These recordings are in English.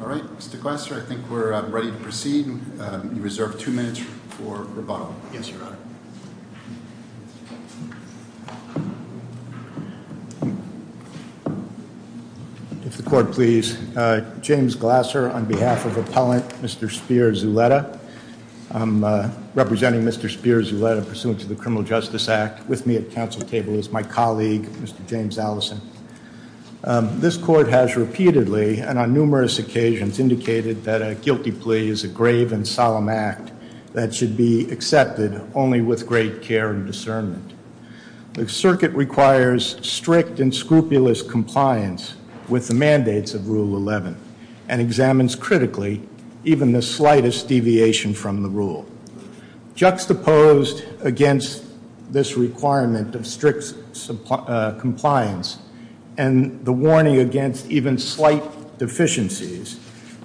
All right, Mr. Glasser, I think we're ready to proceed. You reserve two minutes for rebuttal. Yes, your honor. If the court please. James Glasser on behalf of appellant Mr. Spear-Zuleta. I'm representing Mr. Spear-Zuleta pursuant to the Criminal Justice Act. With me at council table is my colleague, Mr. James Allison. This court has repeatedly and on numerous occasions indicated that a guilty plea is a grave and solemn act that should be accepted only with great care and discernment. The circuit requires strict and scrupulous compliance with the mandates of Rule 11 and examines critically even the slightest deviation from the rule. Juxtaposed against this requirement of strict compliance and the warning against even slight deficiencies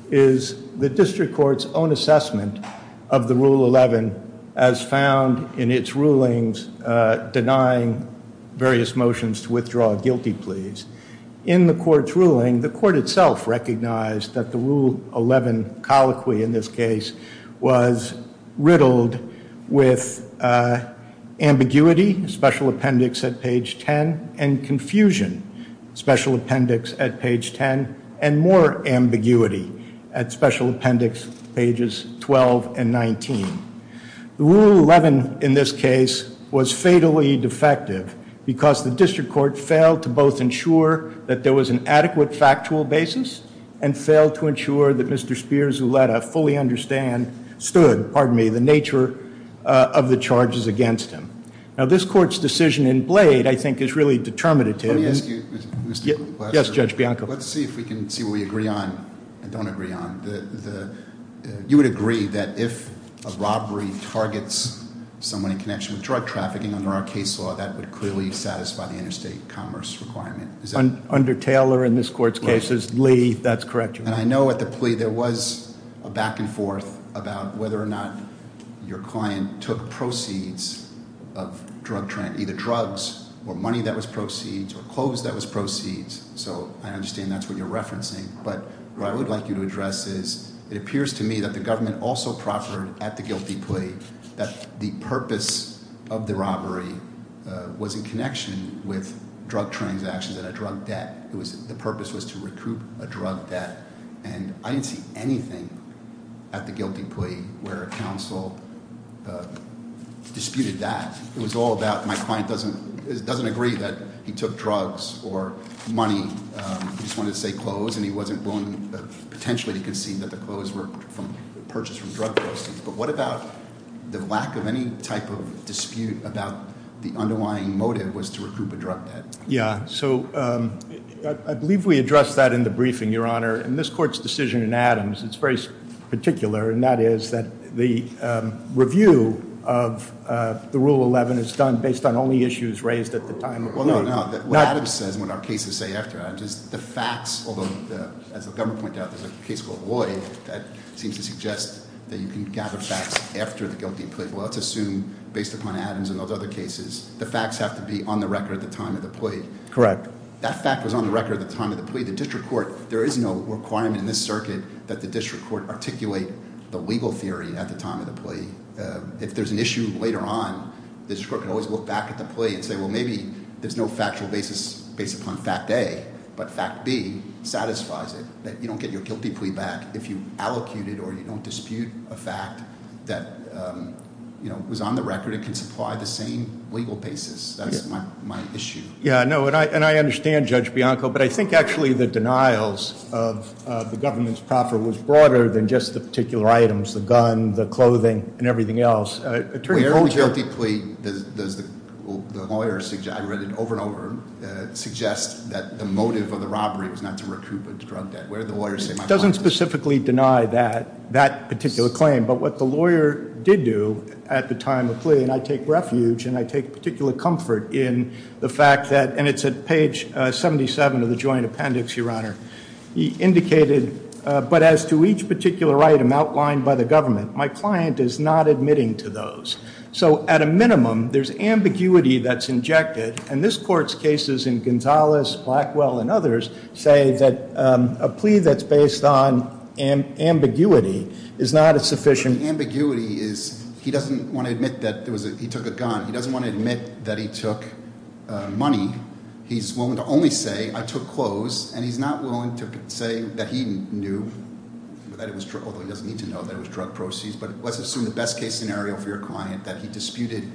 is the district court's own assessment of the Rule 11 as found in its rulings denying various motions to withdraw guilty pleas. In the court's ruling, the court itself recognized that the Rule 11 colloquy in this case was riddled with ambiguity, special appendix at page 10 and confusion, special appendix at page 10 and more ambiguity at special appendix pages 12 and 19. Rule 11 in this case was fatally defective because the district court failed to both ensure that there was an adequate factual basis and failed to ensure that Mr. Spear-Zuleta fully understood, stood, pardon me, the nature of the charges against him. Now this court's decision in Blade I think is really determinative. Let me ask you, Mr. Glasser. Yes, Judge Bianco. Let's see if we can see what we agree on and don't agree on. You would agree that if a robbery targets someone in connection with drug trafficking under our case law, that would clearly satisfy the interstate commerce requirement. Is that- Under Taylor in this court's case is Lee. That's correct, Your Honor. And I know at the plea there was a back and forth about whether or not your client took proceeds of drug trafficking, either drugs or money that was proceeds or clothes that was proceeds. So I understand that's what you're referencing. But what I would like you to address is it appears to me that the government also proffered at the guilty plea that the purpose of the robbery was in connection with drug transactions and a drug debt. The purpose was to recoup a drug debt. And I didn't see anything at the guilty plea where counsel disputed that. It was all about my client doesn't agree that he took drugs or money. He just wanted to say clothes, and he wasn't willing potentially to concede that the clothes were purchased from drug proceeds. But what about the lack of any type of dispute about the underlying motive was to recoup a drug debt? Yeah, so I believe we addressed that in the briefing, Your Honor. In this court's decision in Adams, it's very particular. And that is that the review of the Rule 11 is done based on only issues raised at the time of plea. Well, no, no. What Adams says and what our cases say after Adams is the facts, although as the government pointed out, there's a case called Loyd that seems to suggest that you can gather facts after the guilty plea. Well, let's assume based upon Adams and those other cases, the facts have to be on the record at the time of the plea. Correct. That fact was on the record at the time of the plea. The district court, there is no requirement in this circuit that the district court articulate the legal theory at the time of the plea. If there's an issue later on, the district court can always look back at the plea and say, well, maybe there's no factual basis based upon fact A. But fact B satisfies it, that you don't get your guilty plea back if you allocate it or you don't dispute a fact that was on the record and can supply the same legal basis. That's my issue. Yeah, no, and I understand Judge Bianco, but I think actually the denials of the government's proffer was broader than just the particular items. The gun, the clothing, and everything else. Wait, where in the guilty plea does the lawyer, I read it over and over, suggest that the motive of the robbery was not to recoup its drug debt? Where did the lawyer say- It doesn't specifically deny that particular claim, but what the lawyer did do at the time of plea, and I take refuge and I take particular comfort in the fact that, and it's at page 77 of the joint appendix, Your Honor. He indicated, but as to each particular item outlined by the government, my client is not admitting to those. So at a minimum, there's ambiguity that's injected. And this court's cases in Gonzalez, Blackwell, and others say that a plea that's based on ambiguity is not a sufficient- The ambiguity is he doesn't want to admit that he took a gun. He doesn't want to admit that he took money. He's willing to only say, I took clothes, and he's not willing to say that he knew, although he doesn't need to know, that it was drug proceeds. But let's assume the best case scenario for your client, that he disputed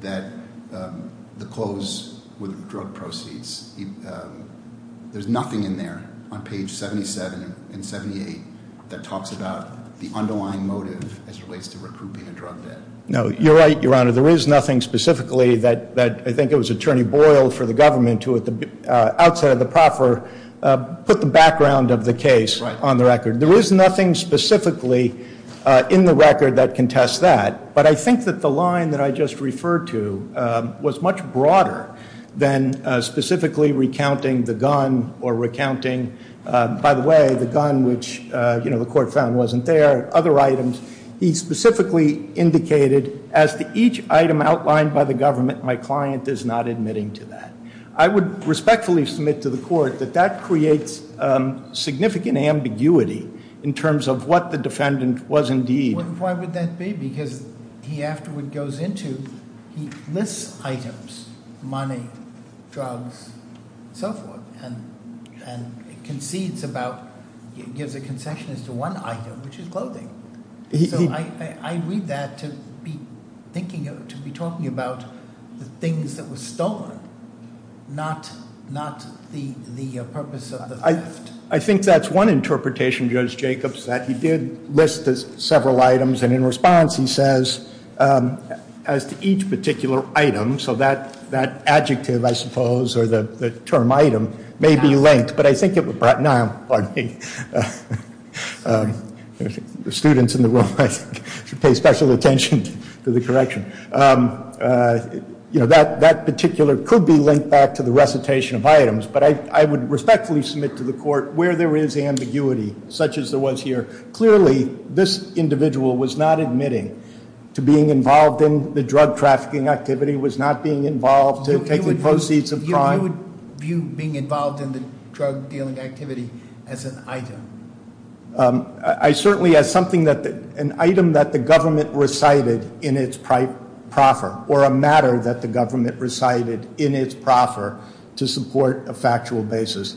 that the clothes were the drug proceeds. There's nothing in there on page 77 and 78 that talks about the underlying motive as it relates to recouping a drug debt. No, you're right, Your Honor. There is nothing specifically that I think it was Attorney Boyle for the government to, outside of the proffer, put the background of the case on the record. There is nothing specifically in the record that contests that. But I think that the line that I just referred to was much broader than specifically recounting the gun or recounting, by the way, the gun which the court found wasn't there, other items. He specifically indicated, as to each item outlined by the government, my client is not admitting to that. I would respectfully submit to the court that that creates significant ambiguity in terms of what the defendant was indeed- He afterward goes into, he lists items, money, drugs, and so forth. And concedes about, gives a concession as to one item, which is clothing. So I read that to be talking about the things that were stolen, not the purpose of the theft. I think that's one interpretation, Judge Jacobs, that he did list several items. And in response, he says, as to each particular item, so that adjective, I suppose, or the term item, may be linked. But I think it would, pardon me, the students in the room should pay special attention to the correction. That particular could be linked back to the recitation of items. But I would respectfully submit to the court where there is ambiguity, such as there was here. Clearly, this individual was not admitting to being involved in the drug trafficking activity, was not being involved in taking proceeds of crime. You would view being involved in the drug dealing activity as an item? I certainly, as something that, an item that the government recited in its proffer, or a matter that the government recited in its proffer, to support a factual basis.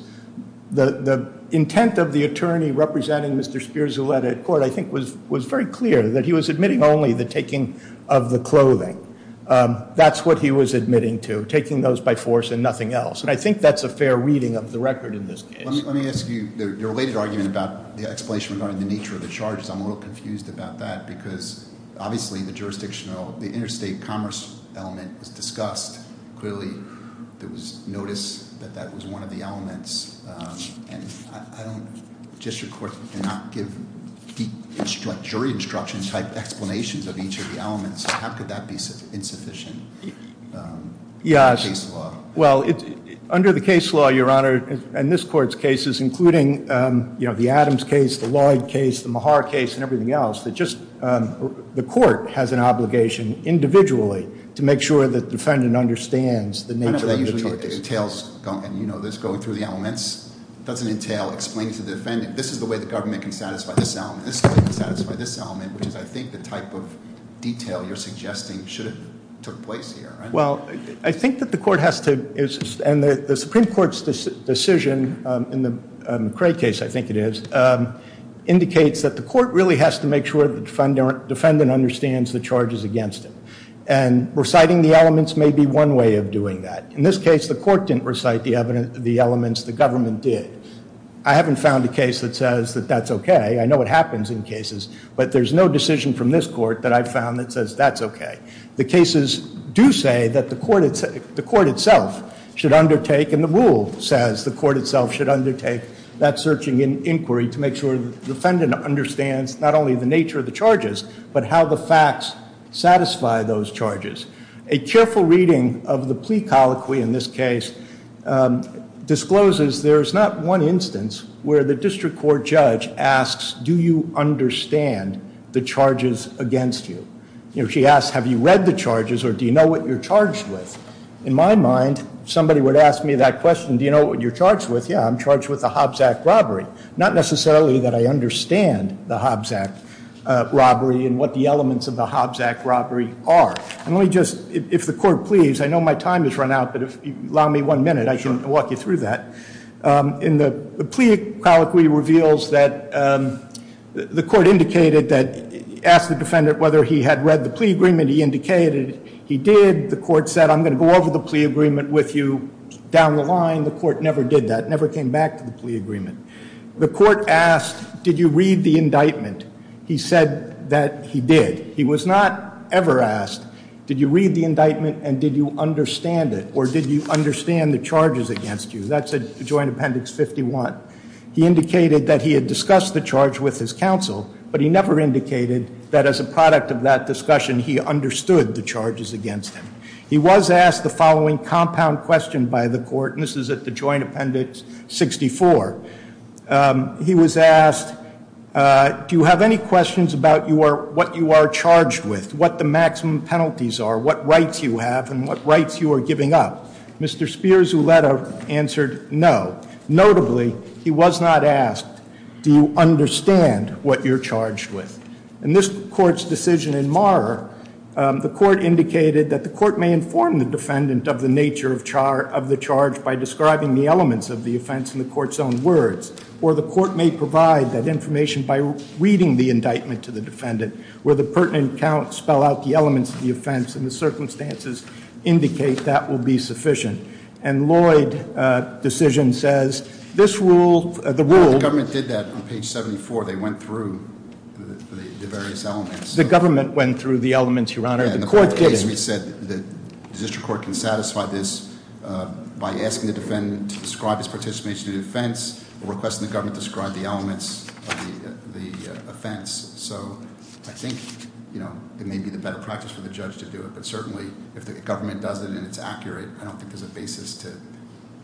The intent of the attorney representing Mr. Spears who led it at court, I think, was very clear, that he was admitting only the taking of the clothing. That's what he was admitting to, taking those by force and nothing else. And I think that's a fair reading of the record in this case. Let me ask you, your related argument about the explanation regarding the nature of the charges. I'm a little confused about that, because obviously, the jurisdictional, the interstate commerce element was discussed. Clearly, there was notice that that was one of the elements. And I don't, just your court cannot give jury instruction type explanations of each of the elements. How could that be insufficient in the case law? Well, under the case law, your honor, and this court's cases, including the Adams case, the Lloyd case, the Mahar case, and everything else, that just the court has an obligation, individually, to make sure that the defendant understands the nature of the charges. It entails, and you know this, going through the elements, doesn't entail explaining to the defendant, this is the way the government can satisfy this element, this is the way it can satisfy this element, which is, I think, the type of detail you're suggesting should have took place here, right? Well, I think that the court has to, and the Supreme Court's decision, in the Cray case, I think it is, indicates that the court really has to make sure the defendant understands the charges against him. And reciting the elements may be one way of doing that. In this case, the court didn't recite the elements, the government did. I haven't found a case that says that that's okay. I know it happens in cases, but there's no decision from this court that I've found that says that's okay. The cases do say that the court itself should undertake, and the rule says the court itself should undertake that searching inquiry to make sure the defendant understands not only the nature of the charges, but how the facts satisfy those charges. A careful reading of the plea colloquy in this case discloses there's not one instance where the district court judge asks, do you understand the charges against you? She asks, have you read the charges, or do you know what you're charged with? In my mind, somebody would ask me that question, do you know what you're charged with? Yeah, I'm charged with the Hobbs Act robbery. Not necessarily that I understand the Hobbs Act robbery and what the elements of the Hobbs Act robbery are. And let me just, if the court please, I know my time has run out, but if you allow me one minute, I can walk you through that. In the plea colloquy reveals that the court indicated that, asked the defendant whether he had read the plea agreement he indicated he did. The court said, I'm going to go over the plea agreement with you down the line. The court never did that, never came back to the plea agreement. The court asked, did you read the indictment? He said that he did. He was not ever asked, did you read the indictment and did you understand it? Or did you understand the charges against you? That's a joint appendix 51. He indicated that he had discussed the charge with his counsel, but he never indicated that as a product of that discussion, he understood the charges against him. He was asked the following compound question by the court, and this is at the joint appendix 64. He was asked, do you have any questions about what you are charged with? What the maximum penalties are? What rights you have and what rights you are giving up? Mr. Spears, who let up, answered no. Notably, he was not asked, do you understand what you're charged with? In this court's decision in Marr, the court indicated that the court may inform the defendant of the nature of the charge by describing the elements of the offense in the court's own words. Or the court may provide that information by reading the indictment to the defendant, where the pertinent count spell out the elements of the offense and the circumstances indicate that will be sufficient. And Lloyd's decision says, this rule, the rule- The government did that on page 74. They went through the various elements. The government went through the elements, your honor. The court did it. We said that the district court can satisfy this by asking the defendant to describe his participation in the offense. Requesting the government to describe the elements of the offense. So I think it may be the better practice for the judge to do it, but certainly if the government does it and it's accurate. I don't think there's a basis to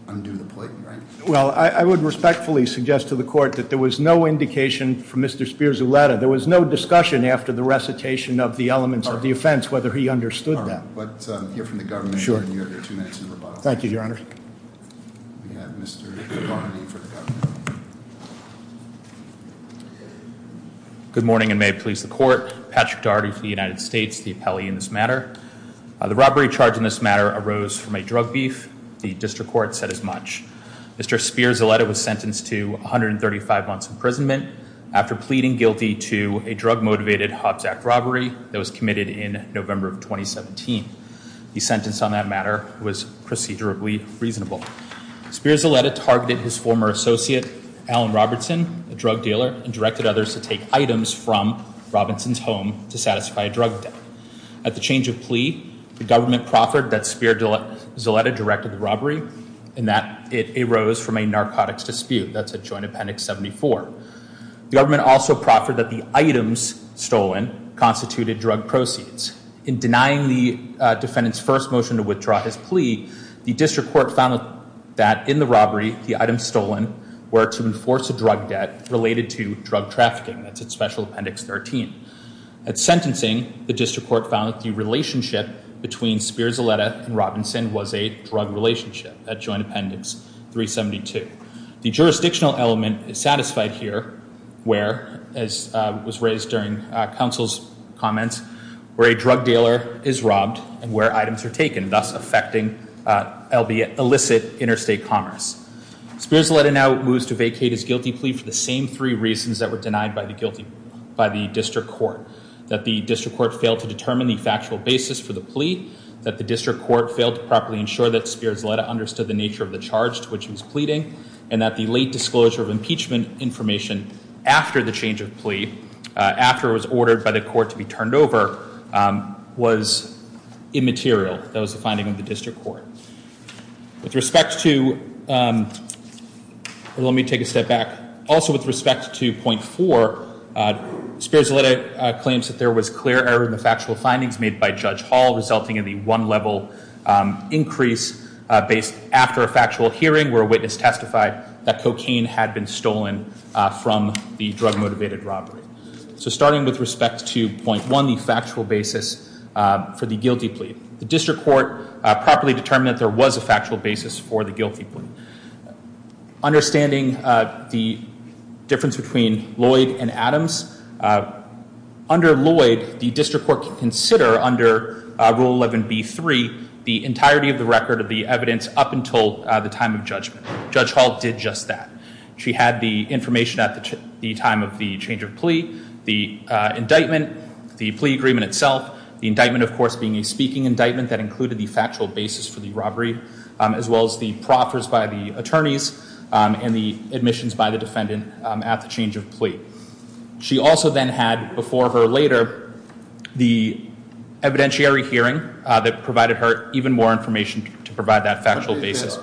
undo the plate, right? Well, I would respectfully suggest to the court that there was no indication from Mr. Spears-Uletta. There was no discussion after the recitation of the elements of the offense whether he understood that. But hear from the government. Sure. Thank you, your honor. Good morning and may it please the court. Patrick Daugherty for the United States, the appellee in this matter. The robbery charge in this matter arose from a drug beef. The district court said as much. Mr. Spears-Uletta was sentenced to 135 months imprisonment after pleading guilty to a drug motivated Hobbs Act robbery that was committed in November of 2017. The sentence on that matter was procedurally reasonable. Spears-Uletta targeted his former associate, Alan Robertson, a drug dealer, and directed others to take items from Robinson's home to satisfy a drug debt. At the change of plea, the government proffered that Spears-Uletta directed the robbery and that it arose from a narcotics dispute, that's at Joint Appendix 74. The government also proffered that the items stolen constituted drug proceeds. In denying the defendant's first motion to withdraw his plea, the district court found that in the robbery, the items stolen were to enforce a drug debt related to drug trafficking, that's at Special Appendix 13. At sentencing, the district court found that the relationship between Spears-Uletta and Robinson was a drug relationship at Joint Appendix 372. The jurisdictional element is satisfied here, where, as was raised during council's comments, where a drug dealer is robbed and where items are taken, thus affecting illicit interstate commerce. Spears-Uletta now moves to vacate his guilty plea for the same three reasons that were denied by the district court. That the district court failed to determine the factual basis for the plea. That the district court failed to properly ensure that Spears-Uletta understood the nature of the charge to which he was pleading. And that the late disclosure of impeachment information after the change of plea, after it was ordered by the court to be turned over, was immaterial. That was the finding of the district court. With respect to, let me take a step back. Also with respect to point four, Spears-Uletta claims that there was clear error in the factual findings made by Judge Hall, resulting in the one level increase based after a factual hearing, where a witness testified that cocaine had been stolen from the drug motivated robbery. So starting with respect to point one, the factual basis for the guilty plea. The district court properly determined that there was a factual basis for the guilty plea. Understanding the difference between Lloyd and Adams. Under Lloyd, the district court can consider under rule 11B3, the entirety of the record of the evidence up until the time of judgment. Judge Hall did just that. She had the information at the time of the change of plea, the indictment, the plea agreement itself. The indictment, of course, being a speaking indictment that included the factual basis for the robbery. As well as the proffers by the attorneys and the admissions by the defendant at the change of plea. She also then had, before or later, the evidentiary hearing that provided her even more information to provide that factual basis.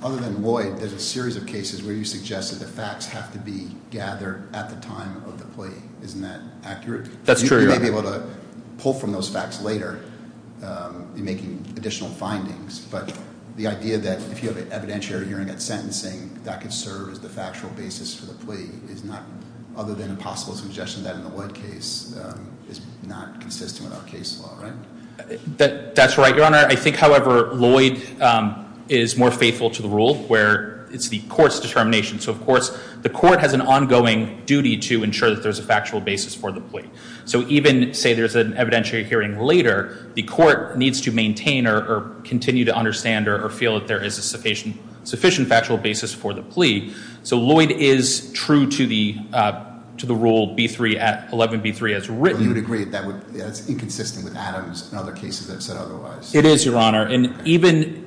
Other than Lloyd, there's a series of cases where you suggest that the facts have to be gathered at the time of the plea. Isn't that accurate? That's true, Your Honor. You may be able to pull from those facts later in making additional findings. But the idea that if you have an evidentiary hearing at sentencing, that could serve as the factual basis for the plea is not other than a possible suggestion that in the Lloyd case is not consistent with our case law, right? That's right, Your Honor. I think, however, Lloyd is more faithful to the rule where it's the court's determination. So of course, the court has an ongoing duty to ensure that there's a factual basis for the plea. So even, say, there's an evidentiary hearing later, the court needs to maintain or continue to understand or feel that there is a sufficient factual basis for the plea. So Lloyd is true to the rule B3, 11B3, as written. You would agree that it's inconsistent with Adams and other cases that have said otherwise. It is, Your Honor. And even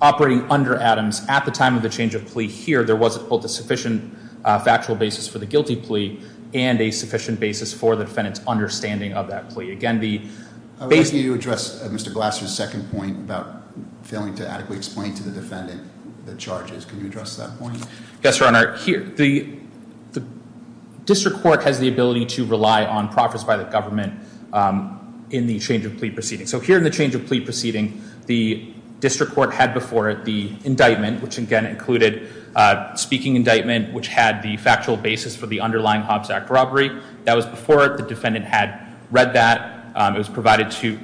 operating under Adams at the time of the change of plea here, there wasn't both a sufficient factual basis for the guilty plea and a sufficient basis for the defendant's understanding of that plea. Again, the- I would like you to address Mr. Glasser's second point about failing to adequately explain to the defendant the charges. Can you address that point? Yes, Your Honor. Here, the district court has the ability to rely on profits by the government in the change of plea proceeding. And so here in the change of plea proceeding, the district court had before it the indictment, which again included speaking indictment, which had the factual basis for the underlying Hobbs Act robbery. That was before it, the defendant had read that, it was provided to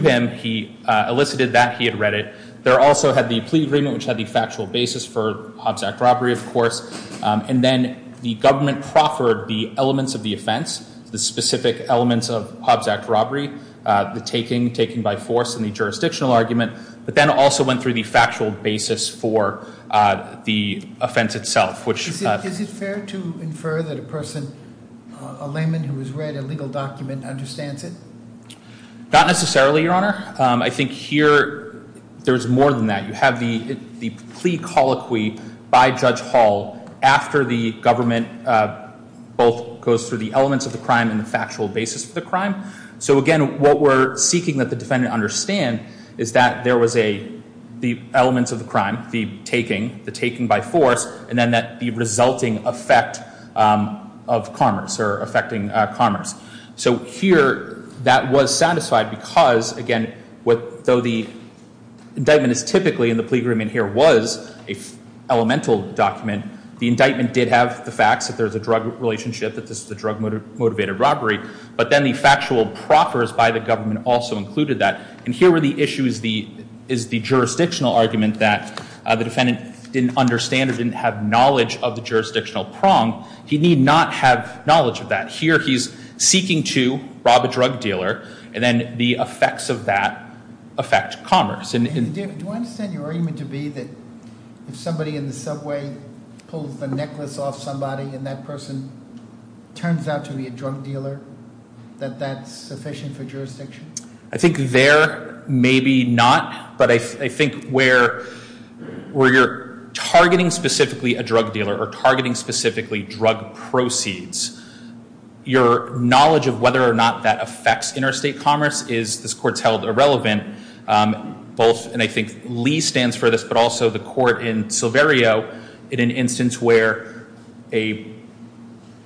him, he elicited that, he had read it. There also had the plea agreement, which had the factual basis for Hobbs Act robbery, of course. And then the government proffered the elements of the offense, the specific elements of Hobbs Act robbery. The taking, taking by force, and the jurisdictional argument. But then also went through the factual basis for the offense itself, which- Is it fair to infer that a person, a layman who has read a legal document, understands it? Not necessarily, Your Honor. I think here, there's more than that. You have the plea colloquy by Judge Hall after the government both goes through the elements of the crime and the factual basis of the crime. So again, what we're seeking that the defendant understand is that there was the elements of the crime, the taking, the taking by force, and then the resulting effect of commerce or affecting commerce. So here, that was satisfied because, again, though the indictment is typically in the plea agreement here was an elemental document, the indictment did have the facts that there's a drug relationship, that this is a drug motivated robbery. But then the factual proffers by the government also included that. And here where the issue is the jurisdictional argument that the defendant didn't understand or didn't have knowledge of the jurisdictional prong, he need not have knowledge of that. Here he's seeking to rob a drug dealer, and then the effects of that affect commerce. And David, do I understand your argument to be that if somebody in the subway pulls the necklace off somebody and that person turns out to be a drug dealer, that that's sufficient for jurisdiction? I think there, maybe not. But I think where you're targeting specifically a drug dealer or targeting specifically drug proceeds, your knowledge of whether or not that affects interstate commerce is, this court's held irrelevant, both, and I think Lee stands for this, but also the court in Silverio, in an instance where a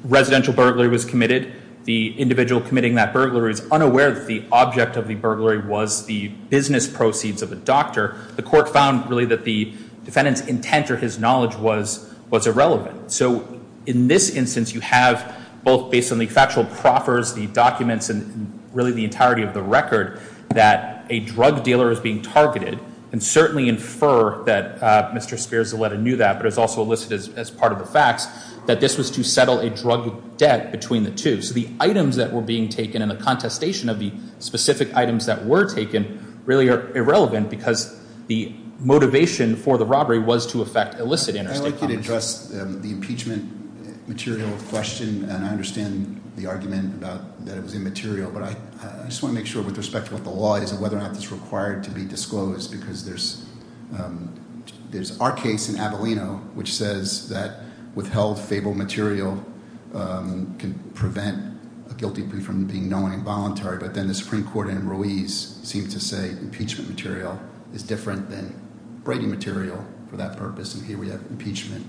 residential burglary was committed, the individual committing that burglary is unaware that the object of the burglary was the business proceeds of a doctor. The court found, really, that the defendant's intent or his knowledge was irrelevant. So in this instance, you have, both based on the factual proffers, the documents, and really the entirety of the record, that a drug dealer is being targeted. And certainly infer that Mr. Spears-Zaleta knew that, but is also listed as part of the facts, that this was to settle a drug debt between the two. So the items that were being taken and the contestation of the specific items that were taken really are irrelevant because the motivation for the robbery was to affect illicit interstate commerce. I'd like you to address the impeachment material question, and I understand the argument about that it was immaterial, but I just want to make sure, with respect to what the law is and whether or not it's required to be disclosed. Because there's our case in Abileno, which says that withheld fable material can prevent a guilty plea from being known involuntary, but then the Supreme Court in Ruiz seemed to say impeachment material is different than Brady material for that purpose, and here we have impeachment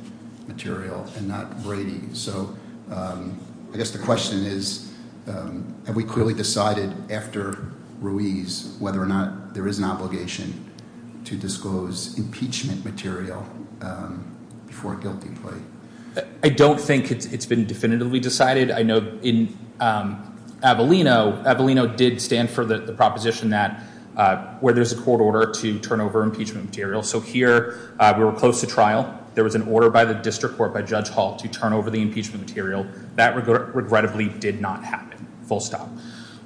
material and not Brady. So I guess the question is, have we clearly decided after Ruiz, whether or not there is an obligation to disclose impeachment material before a guilty plea? I don't think it's been definitively decided. I know in Abileno, Abileno did stand for the proposition that, where there's a court order to turn over impeachment material. So here, we were close to trial. There was an order by the district court, by Judge Hall, to turn over the impeachment material. That regrettably did not happen, full stop.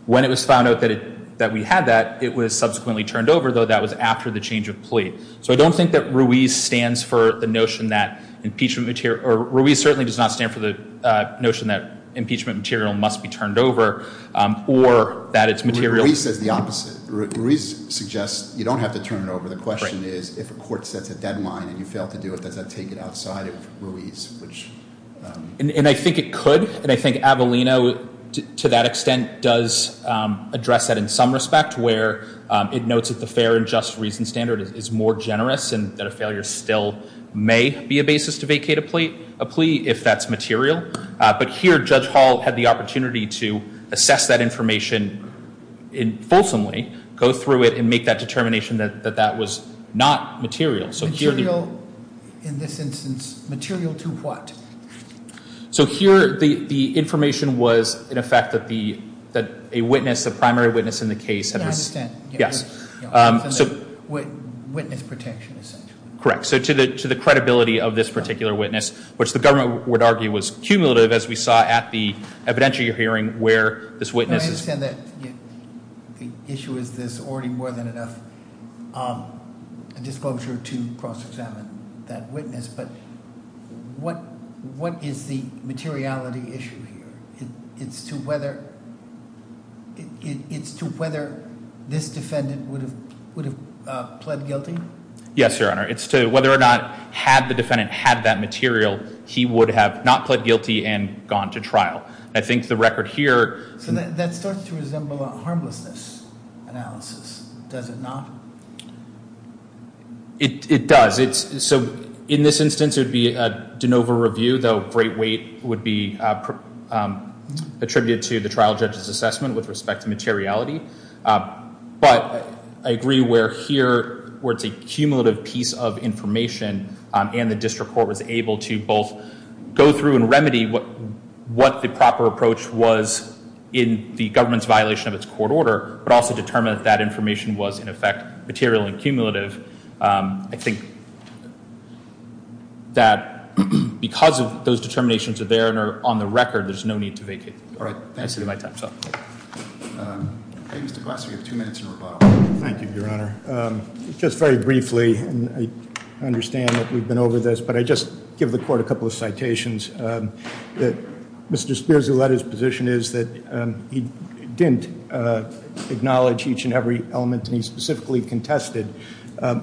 When it was found out that we had that, it was subsequently turned over, though that was after the change of plea. So I don't think that Ruiz stands for the notion that impeachment material, or Ruiz certainly does not stand for the notion that impeachment material must be turned over, or that it's material- Ruiz says the opposite. Ruiz suggests you don't have to turn it over. The question is, if a court sets a deadline and you fail to do it, does that take it outside of Ruiz, which- And I think it could, and I think Abileno, to that extent, does address that in some respect, where it notes that the fair and just reason standard is more generous, and that a failure still may be a basis to vacate a plea if that's material. But here, Judge Hall had the opportunity to assess that information in fulsomely, go through it, and make that determination that that was not material. So here- Material, in this instance, material to what? So here, the information was, in effect, that a witness, a primary witness in the case- Yeah, I understand. Yes. So- Witness protection, essentially. Correct. So to the credibility of this particular witness, which the government would argue was cumulative, as we saw at the evidentiary hearing where this witness- I understand that the issue is there's already more than enough disclosure to cross-examine that witness, but what is the materiality issue here? It's to whether this defendant would have pled guilty? Yes, Your Honor. It's to whether or not, had the defendant had that material, he would have not pled guilty and gone to trial. I think the record here- So that starts to resemble a harmlessness analysis, does it not? It does. So in this instance, it would be a de novo review, though great weight would be attributed to the trial judge's assessment with respect to materiality. But I agree where here, where it's a cumulative piece of information, and the district court was able to both go through and remedy what the proper approach was in the government's violation of its court order, but also determine that that information was, in effect, material and cumulative. I think that because of those determinations are there and are on the record, there's no need to vacate. All right, thank you. I see that my time's up. Mr. Glasser, you have two minutes in rebuttal. Thank you, Your Honor. Just very briefly, and I understand that we've been over this, but I just give the court a couple of citations. Mr. Spears, who led his position, is that he didn't acknowledge each and every element, and he specifically contested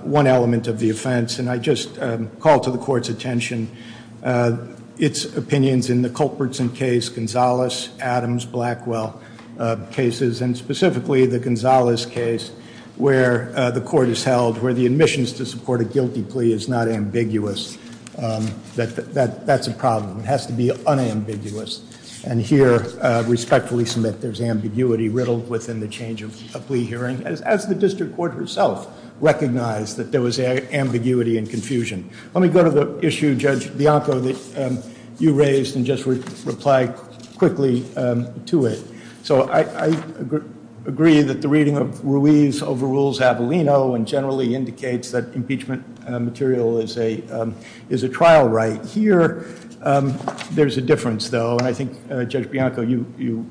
one element of the offense. And I just call to the court's attention its opinions in the Culpertson case, Gonzales, Adams, Blackwell cases, and specifically the Gonzales case, where the court is held, where the admissions to support a guilty plea is not ambiguous. That's a problem, it has to be unambiguous. And here, respectfully submit, there's ambiguity riddled within the change of plea hearing, as the district court herself recognized that there was ambiguity and confusion. Let me go to the issue, Judge Bianco, that you raised and just reply quickly to it. So I agree that the reading of Ruiz overrules Avellino and generally indicates that impeachment material is a trial right. Here, there's a difference though, and I think Judge Bianco, you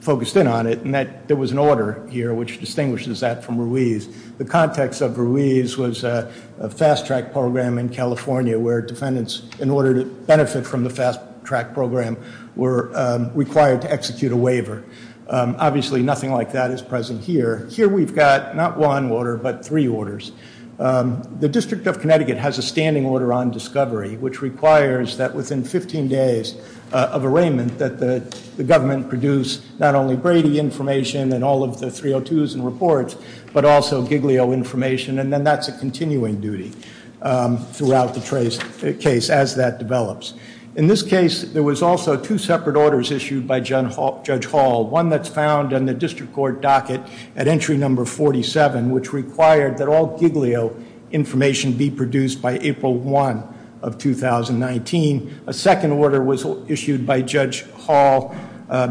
focused in on it, and that there was an order here which distinguishes that from Ruiz. The context of Ruiz was a fast track program in California where defendants, in order to benefit from the fast track program, were required to execute a waiver. Obviously, nothing like that is present here. Here we've got not one order, but three orders. The District of Connecticut has a standing order on discovery, which requires that within 15 days of arraignment that the government produce not only Brady information and all of the 302s and reports, but also Giglio information. And then that's a continuing duty throughout the case as that develops. In this case, there was also two separate orders issued by Judge Hall. One that's found in the district court docket at entry number 47, which required that all Giglio information be produced by April 1 of 2019. A second order was issued by Judge Hall,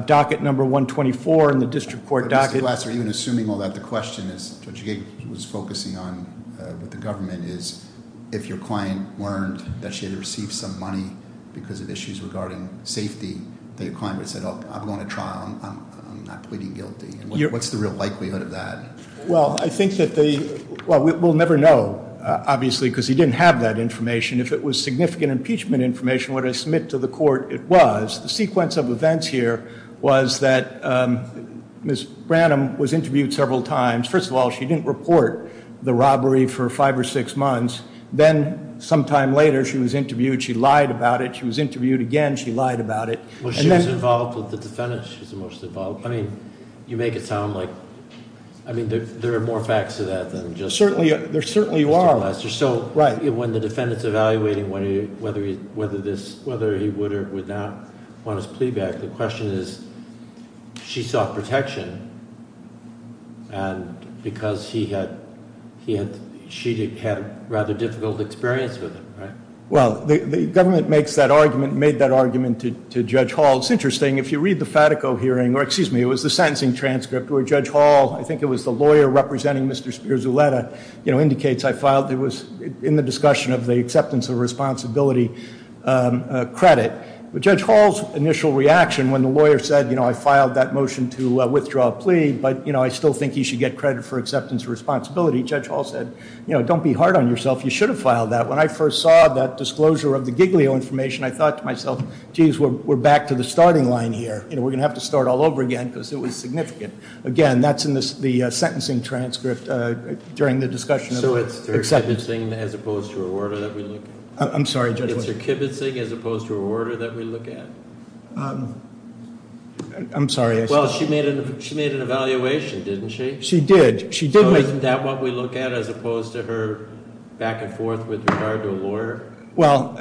docket number 124 in the district court docket. Mr. Glasser, even assuming all that, the question is, Judge Gig was focusing on what the government is. If your client learned that she had received some money because of issues regarding safety, that your client would have said, I'm going to trial, I'm not pleading guilty. What's the real likelihood of that? Well, I think that they, well, we'll never know, obviously, because he didn't have that information. If it was significant impeachment information, what I submit to the court, it was. The sequence of events here was that Ms. Branham was interviewed several times. First of all, she didn't report the robbery for five or six months. Then, sometime later, she was interviewed, she lied about it, she was interviewed again, she lied about it. Well, she was involved with the defendant, she was the most involved. I mean, you make it sound like, I mean, there are more facts to that than just- Certainly, there certainly are. So when the defendant's evaluating whether he would or would not want his plea back, the question is, she sought protection, and because she had rather difficult experience with him, right? Well, the government makes that argument, made that argument to Judge Hall. It's interesting, if you read the Fatico hearing, or excuse me, it was the sentencing transcript where Judge Hall, I think it was the lawyer representing Mr. Spears-Uletta, indicates I filed, it was in the discussion of the acceptance of responsibility credit. But Judge Hall's initial reaction when the lawyer said, I filed that motion to withdraw a plea, but I still think he should get credit for acceptance of responsibility, Judge Hall said, don't be hard on yourself. You should have filed that. When I first saw that disclosure of the Giglio information, I thought to myself, geez, we're back to the starting line here. We're going to have to start all over again, because it was significant. Again, that's in the sentencing transcript during the discussion of acceptance. So it's her kibitzing as opposed to her order that we look at? I'm sorry, Judge? It's her kibitzing as opposed to her order that we look at? I'm sorry, I- Well, she made an evaluation, didn't she? She did. So isn't that what we look at as opposed to her back and forth with regard to a lawyer? Well-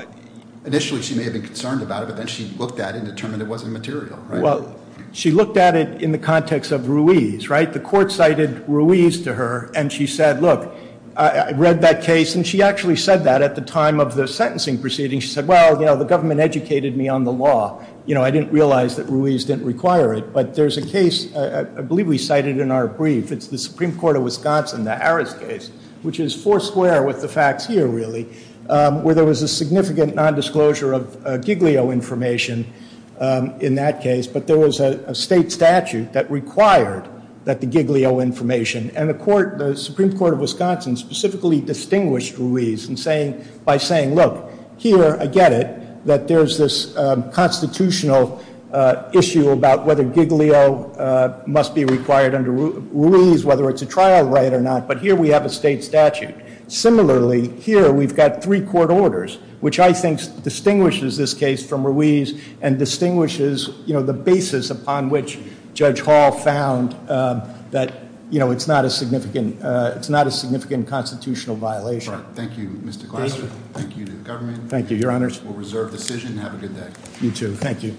Initially she may have been concerned about it, but then she looked at it and determined it wasn't material, right? Well, she looked at it in the context of Ruiz, right? The court cited Ruiz to her, and she said, look, I read that case, and she actually said that at the time of the sentencing proceeding. She said, well, the government educated me on the law. I didn't realize that Ruiz didn't require it. But there's a case, I believe we cited in our brief. It's the Supreme Court of Wisconsin, the Harris case, which is four square with the facts here, really, where there was a significant nondisclosure of Giglio information in that case. But there was a state statute that required that the Giglio information. And the Supreme Court of Wisconsin specifically distinguished Ruiz by saying, look, here I get it that there's this constitutional issue about whether it's a trial right or not, but here we have a state statute. Similarly, here we've got three court orders, which I think distinguishes this case from Ruiz and distinguishes the basis upon which Judge Hall found that it's not a significant constitutional violation. Thank you, Mr. Glasser. Thank you to the government. Thank you, your honors. We'll reserve decision. Have a good day. You too, thank you.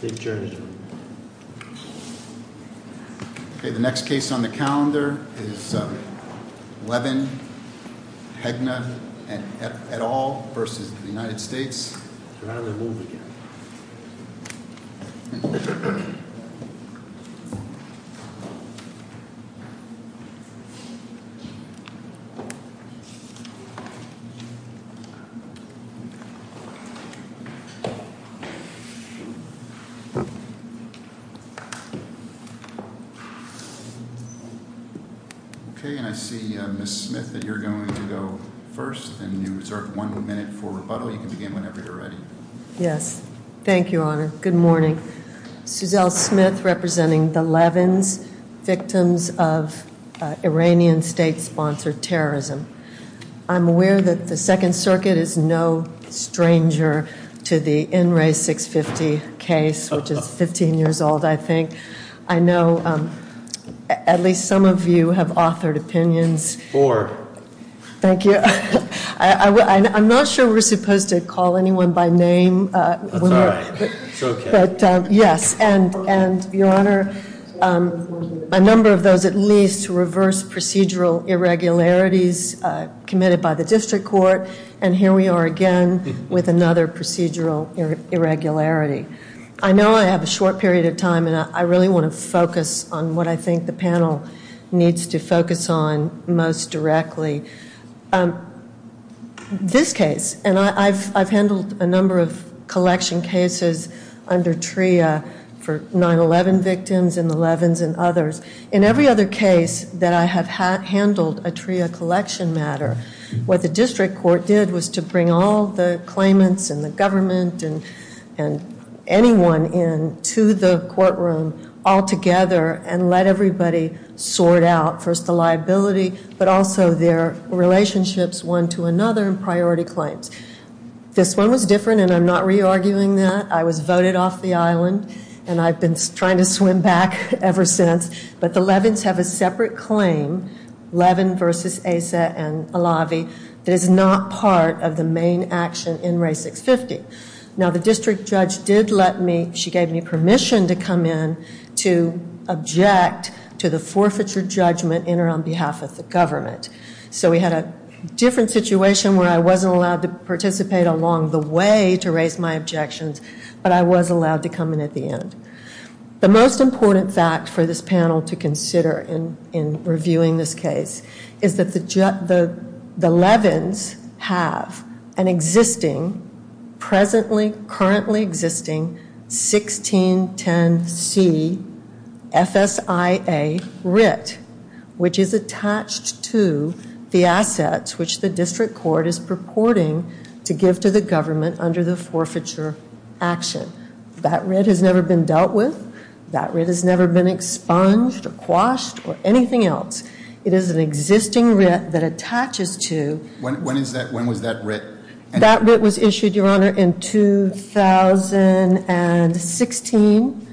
Safe journey. Okay, the next case on the calendar is Levin-Hegna et al versus the United States. You're having to move again. Okay, and I see Ms. Smith, that you're going to go first. And you reserve one minute for rebuttal. You can begin whenever you're ready. Yes. Thank you, Honor. Good morning. Suzelle Smith representing the Levin's victims of Iranian state sponsored terrorism. I'm aware that the Second Circuit is no stranger to the NRA 650 case, which is 15 years old, I think. I know at least some of you have authored opinions. Four. Thank you. I'm not sure we're supposed to call anyone by name. That's all right. It's okay. Yes, and your honor, a number of those at least reverse procedural irregularities committed by the district court. And here we are again with another procedural irregularity. I know I have a short period of time, and I really want to focus on what I think the panel needs to focus on most directly. This case, and I've handled a number of collection cases under TRIA for 9-11 victims and the Levin's and others. In every other case that I have handled a TRIA collection matter, what the district court did was to bring all the claimants and the government and anyone in to the courtroom all together and let everybody sort out first the liability but also their relationships one to another priority claims. This one was different and I'm not re-arguing that. I was voted off the island and I've been trying to swim back ever since. But the Levin's have a separate claim, Levin versus Asa and have the main action in Ray 650. Now the district judge did let me, she gave me permission to come in to object to the forfeiture judgment in or on behalf of the government. So we had a different situation where I wasn't allowed to participate along the way to raise my objections. But I was allowed to come in at the end. The most important fact for this panel to consider in reviewing this case is that the Levin's have an existing, presently, currently existing 1610C FSIA writ. Which is attached to the assets which the district court is purporting to give to the government under the forfeiture action. That writ has never been dealt with. That writ has never been expunged or quashed or anything else. It is an existing writ that attaches to- When was that writ? That writ was issued, your honor, in 2016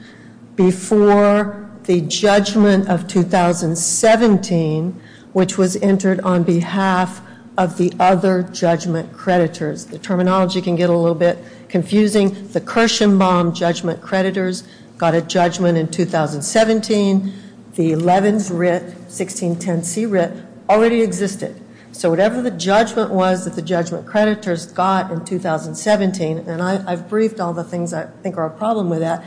before the judgment of 2017. Which was entered on behalf of the other judgment creditors. The terminology can get a little bit confusing. The Kirshenbaum judgment creditors got a judgment in 2017. The Levin's writ, 1610C writ, already existed. So whatever the judgment was that the judgment creditors got in 2017, and I've briefed all the things I think are a problem with that.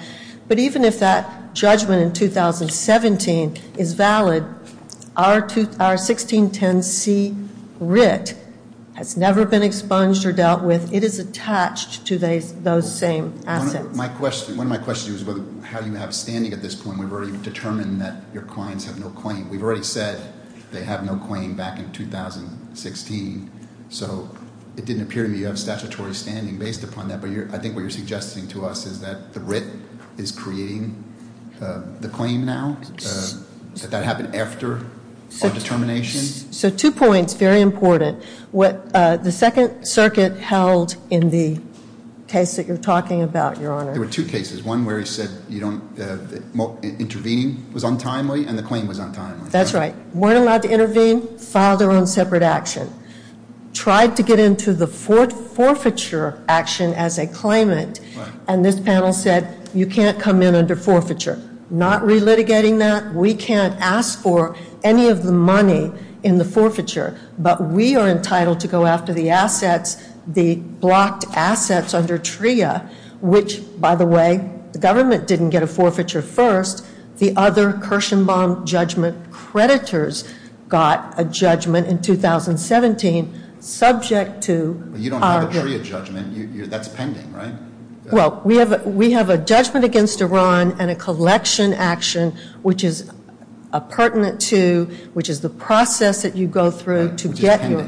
But even if that judgment in 2017 is valid, our 1610C writ has never been expunged or dealt with. It is attached to those same assets. My question, one of my questions was how do you have standing at this point? We've already determined that your clients have no claim. We've already said they have no claim back in 2016. So it didn't appear to me you have statutory standing based upon that. But I think what you're suggesting to us is that the writ is creating the claim now? Did that happen after the determination? So two points, very important. What the second circuit held in the case that you're talking about, your honor. There were two cases, one where he said intervening was untimely and the claim was untimely. That's right. Weren't allowed to intervene, filed their own separate action. Tried to get into the forfeiture action as a claimant. And this panel said, you can't come in under forfeiture. Not relitigating that, we can't ask for any of the money in the forfeiture. But we are entitled to go after the assets, the blocked assets under TRIA. Which, by the way, the government didn't get a forfeiture first. The other Kirshenbaum judgment creditors got a judgment in 2017, subject to- You don't have a TRIA judgment, that's pending, right? Well, we have a judgment against Iran and a collection action which is pertinent to, which is the process that you go through to get your-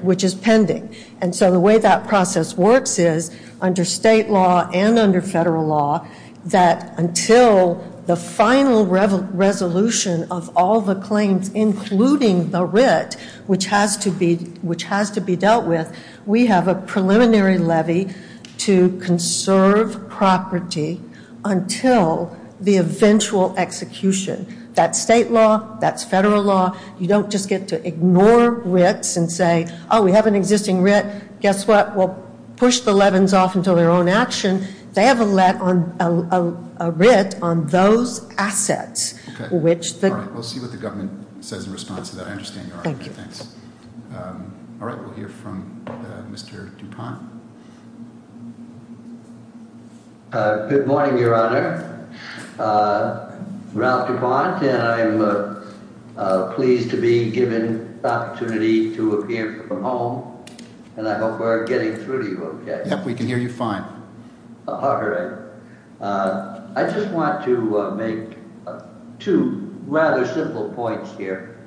Which is pending. And so the way that process works is, under state law and under federal law, that until the final resolution of all the claims, including the writ, which has to be dealt with, we have a preliminary levy to conserve property until the eventual execution. That's state law, that's federal law. You don't just get to ignore writs and say, oh, we have an existing writ. Guess what? We'll push the Levin's off until their own action. They have a writ on those assets, which the- All right, we'll see what the government says in response to that. I understand your argument, thanks. All right, we'll hear from Mr. DuPont. Good morning, your honor. Ralph DuPont, and I'm pleased to be given the opportunity to appear from home. And I hope we're getting through to you okay. Yep, we can hear you fine. All right, I just want to make two rather simple points here.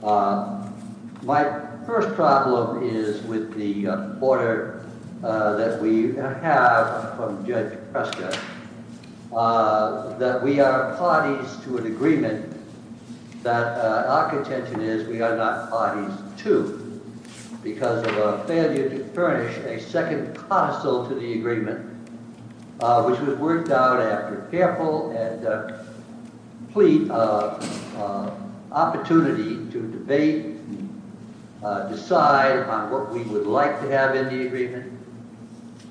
My first problem is with the order that we have from Judge Prescott. That we are parties to an agreement that our contention is we are not parties to because of our failure to furnish a second parcel to the agreement, which was worked out after careful and complete opportunity to debate, decide on what we would like to have in the agreement.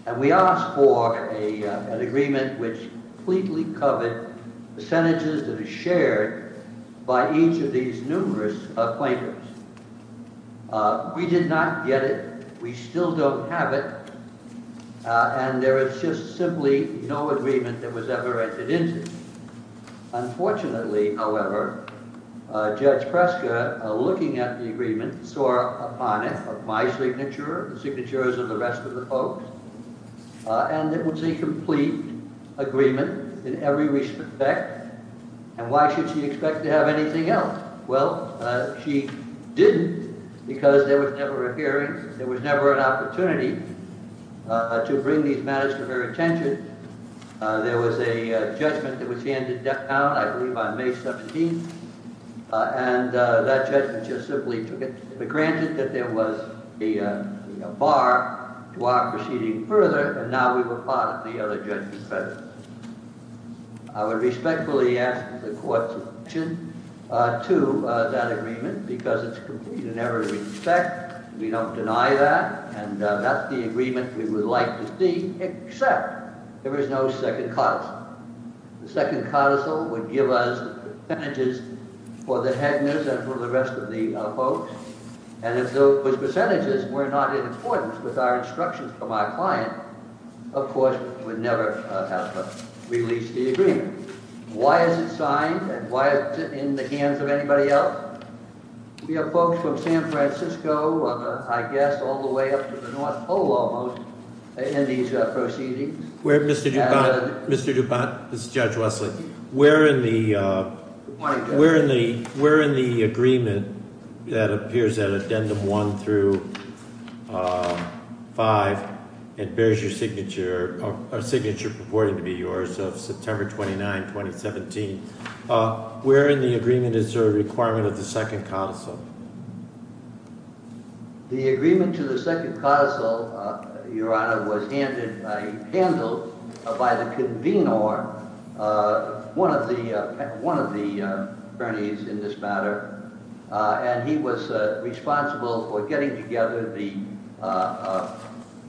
And we asked for an agreement which completely covered percentages that are shared by each of these numerous plaintiffs. We did not get it. We still don't have it. And there is just simply no agreement that was ever entered into. Unfortunately, however, Judge Prescott, looking at the agreement, saw upon it of my signature, the signatures of the rest of the folks, and it was a complete agreement in every respect. And why should she expect to have anything else? Well, she didn't because there was never a hearing. There was never an opportunity to bring these matters to her attention. There was a judgment that was handed down, I believe on May 17th, and that judgment just simply took it. But granted that there was a bar to our proceeding further, and now we were part of the other judgment's presence. I would respectfully ask the court's objection to that agreement because it's complete in every respect. We don't deny that. And that's the agreement we would like to see, except there is no second parcel. The second parcel would give us percentages for the Heckners and for the rest of the folks. And if those percentages were not in accordance with our instructions from our client, of course, we would never have released the agreement. Why is it signed? And why is it in the hands of anybody else? We have folks from San Francisco, I guess all the way up to the North Pole almost, in these proceedings. Where, Mr. DuPont, Mr. DuPont, this is Judge Wesley. Where in the agreement that appears at addendum one through five, it bears your signature, a signature purporting to be yours of September 29, 2017. Where in the agreement is there a requirement of the second parcel? The agreement to the second parcel, Your Honor, was handled by the convenor, one of the attorneys in this matter. And he was responsible for getting together the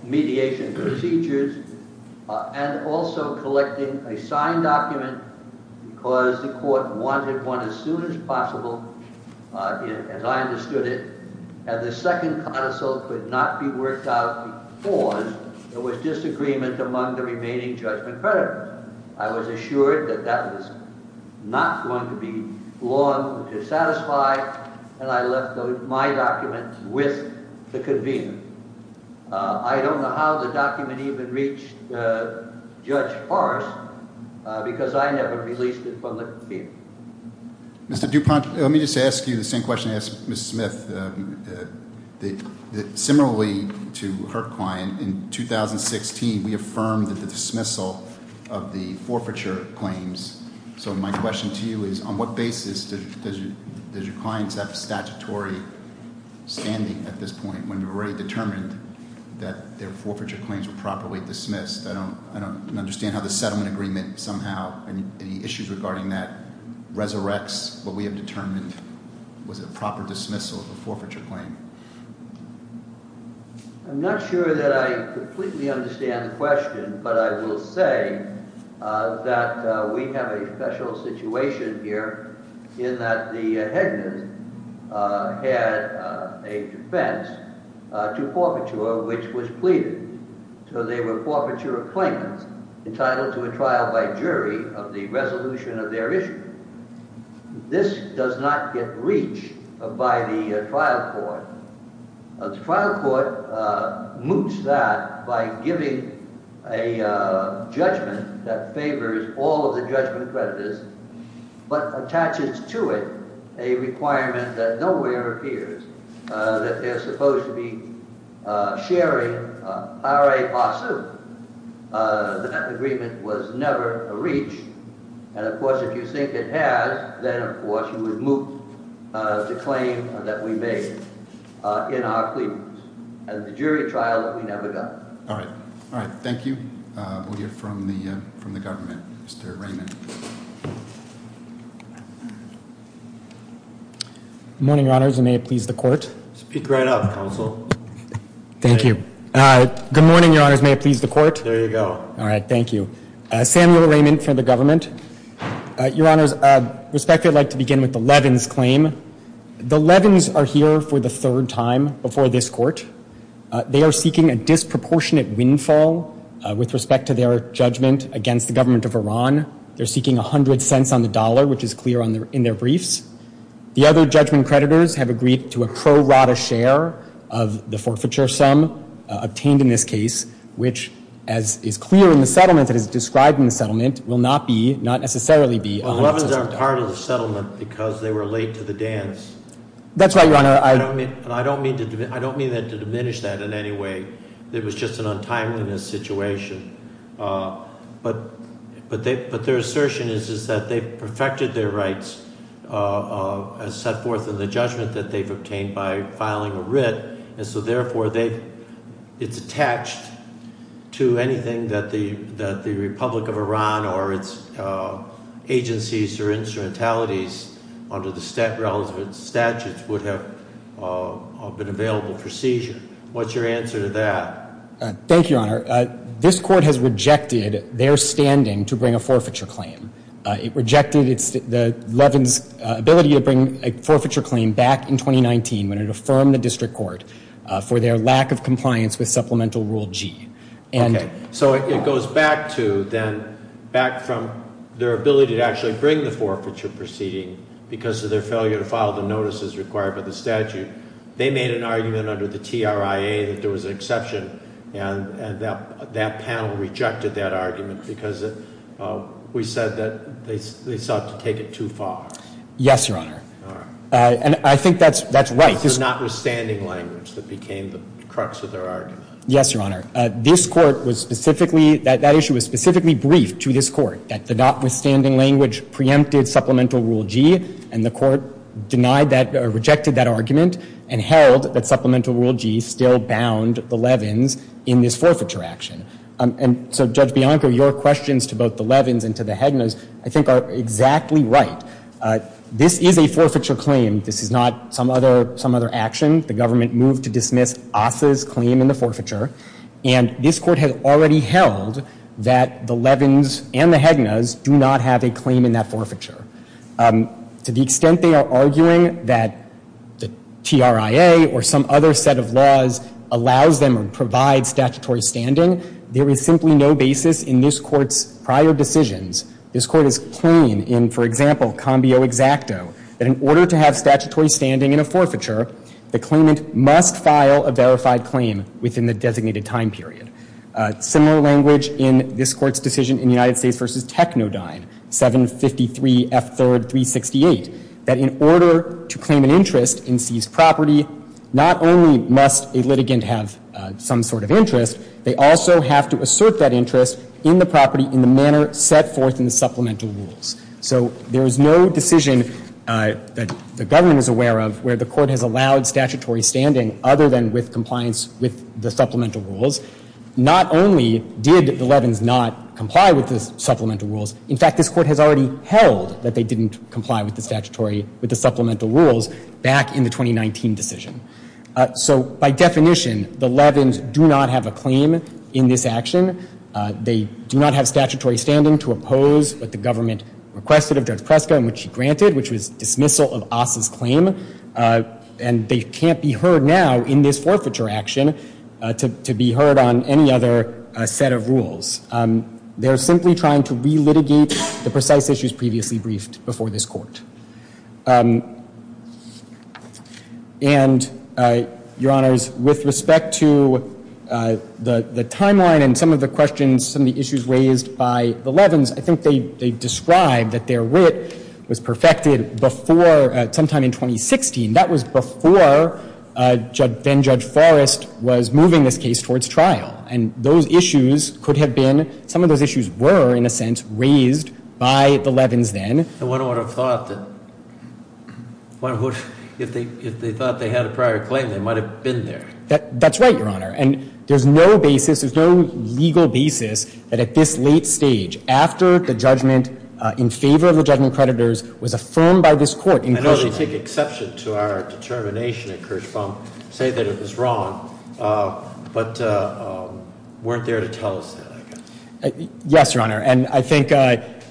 mediation procedures and also collecting a signed document because the court wanted one as soon as possible, as I understood it. And the second parcel could not be worked out because there was disagreement among the remaining judgment creditors. I was assured that that was not going to be long to satisfy, and I left my document with the convener. I don't know how the document even reached Judge Forrest because I never released it from the convener. Mr. DuPont, let me just ask you the same question I asked Ms. Smith. The, similarly to her client, in 2016, we affirmed that the dismissal of the forfeiture claims. So my question to you is, on what basis does your client have statutory standing at this point when we were already determined that their forfeiture claims were properly dismissed? I don't understand how the settlement agreement somehow, and any issues regarding that, was a proper dismissal of a forfeiture claim. I'm not sure that I completely understand the question, but I will say that we have a special situation here in that the headman had a defense to forfeiture, which was pleaded. So they were forfeiture of claimants entitled to a trial by jury of the resolution of their issue. This does not get reached by the trial court. The trial court moots that by giving a judgment that favors all of the judgment creditors, but attaches to it a requirement that nowhere appears that they're supposed to be sharing. That agreement was never reached. And of course, if you think it has, then of course you would move the claim that we made in our pleadings. And the jury trial that we never got. All right. All right. Thank you. We'll hear from the government. Mr. Raymond. Good morning, your honors. And may it please the court. Speak right up, counsel. Thank you. Good morning, your honors. May it please the court. There you go. All right. Thank you. Samuel Raymond from the government. Your honors, respectfully, I'd like to begin with the Levin's claim. The Levin's are here for the third time before this court. They are seeking a disproportionate windfall with respect to their judgment against the government of Iran. They're seeking 100 cents on the dollar, which is clear in their briefs. The other judgment creditors have agreed to a pro rata share of the forfeiture sum obtained in this case, which, as is clear in the settlement that is described in the settlement, will not be, not necessarily be, Well, the Levin's aren't part of the settlement because they were late to the dance. That's right, your honor. And I don't mean to diminish that in any way. It was just an untimeliness situation. But their assertion is that they've perfected their rights as set forth in the judgment that they've obtained by filing a writ. And so, therefore, it's attached to anything that the Republic of Iran or its agencies or instrumentalities under the realms of its statutes would have been available for seizure. What's your answer to that? Thank you, your honor. This court has rejected their standing to bring a forfeiture claim. It rejected the Levin's ability to bring a forfeiture claim back in 2019 when it affirmed the district court for their lack of compliance with Supplemental Rule G. OK. So it goes back to then, back from their ability to actually bring the forfeiture proceeding because of their failure to file the notices required by the statute. They made an argument under the TRIA that there was an exception. And that panel rejected that argument because we said that they sought to take it too far. Yes, your honor. And I think that's right. It's their notwithstanding language that became the crux of their argument. Yes, your honor. That issue was specifically briefed to this court, that the notwithstanding language preempted Supplemental Rule G. And the court denied that or rejected that argument and held that Supplemental Rule G still bound the Levin's in this forfeiture action. And so, Judge Bianco, your questions to both the Levin's and to the Hegna's, I think, are exactly right. This is a forfeiture claim. This is not some other action. The government moved to dismiss Assa's claim in the forfeiture. And this court has already held that the Levin's and the Hegna's do not have a claim in that forfeiture. To the extent they are arguing that the TRIA or some other set of laws allows them or provides statutory standing, there is simply no basis in this court's prior decisions. This court is plain in, for example, combio exacto, that in order to have statutory standing in a forfeiture, the claimant must file a verified claim within the designated time period. Similar language in this court's decision in United States v. Technodyne, 753 F. 3, 368, that in order to claim an interest in seized property, not only must a litigant have some sort of interest, they also have to assert that interest in the property in the manner set forth in the supplemental rules. So there is no decision that the government is aware of where the court has allowed statutory standing other than with compliance with the supplemental rules. Not only did the Levin's not comply with the supplemental rules, in fact, this court has already held that they didn't comply with the statutory, with the supplemental rules back in the 2019 decision. So by definition, the Levin's do not have a claim in this action. They do not have statutory standing to oppose what the government requested of Judge Preska and which she granted, which was dismissal of Asa's claim. And they can't be heard now in this forfeiture action to be heard on any other set of rules. They're simply trying to relitigate the precise issues previously briefed before this court. And, Your Honors, with respect to the timeline and some of the questions, some of the issues raised by the Levin's, I think they described that their wit was perfected before sometime in 2016. That was before then-Judge Forrest was moving this case towards trial. And those issues could have been, some of those issues were, in a sense, raised by the Levin's then. And one would have thought that if they thought they had a prior claim, they might have been there. That's right, Your Honor. And there's no basis, there's no legal basis that at this late stage, after the judgment in favor of the judgment creditors was affirmed by this court. I know they take exception to our determination at Kirchbaum, say that it was wrong, but weren't there to tell us that, I guess. Yes, Your Honor. And I think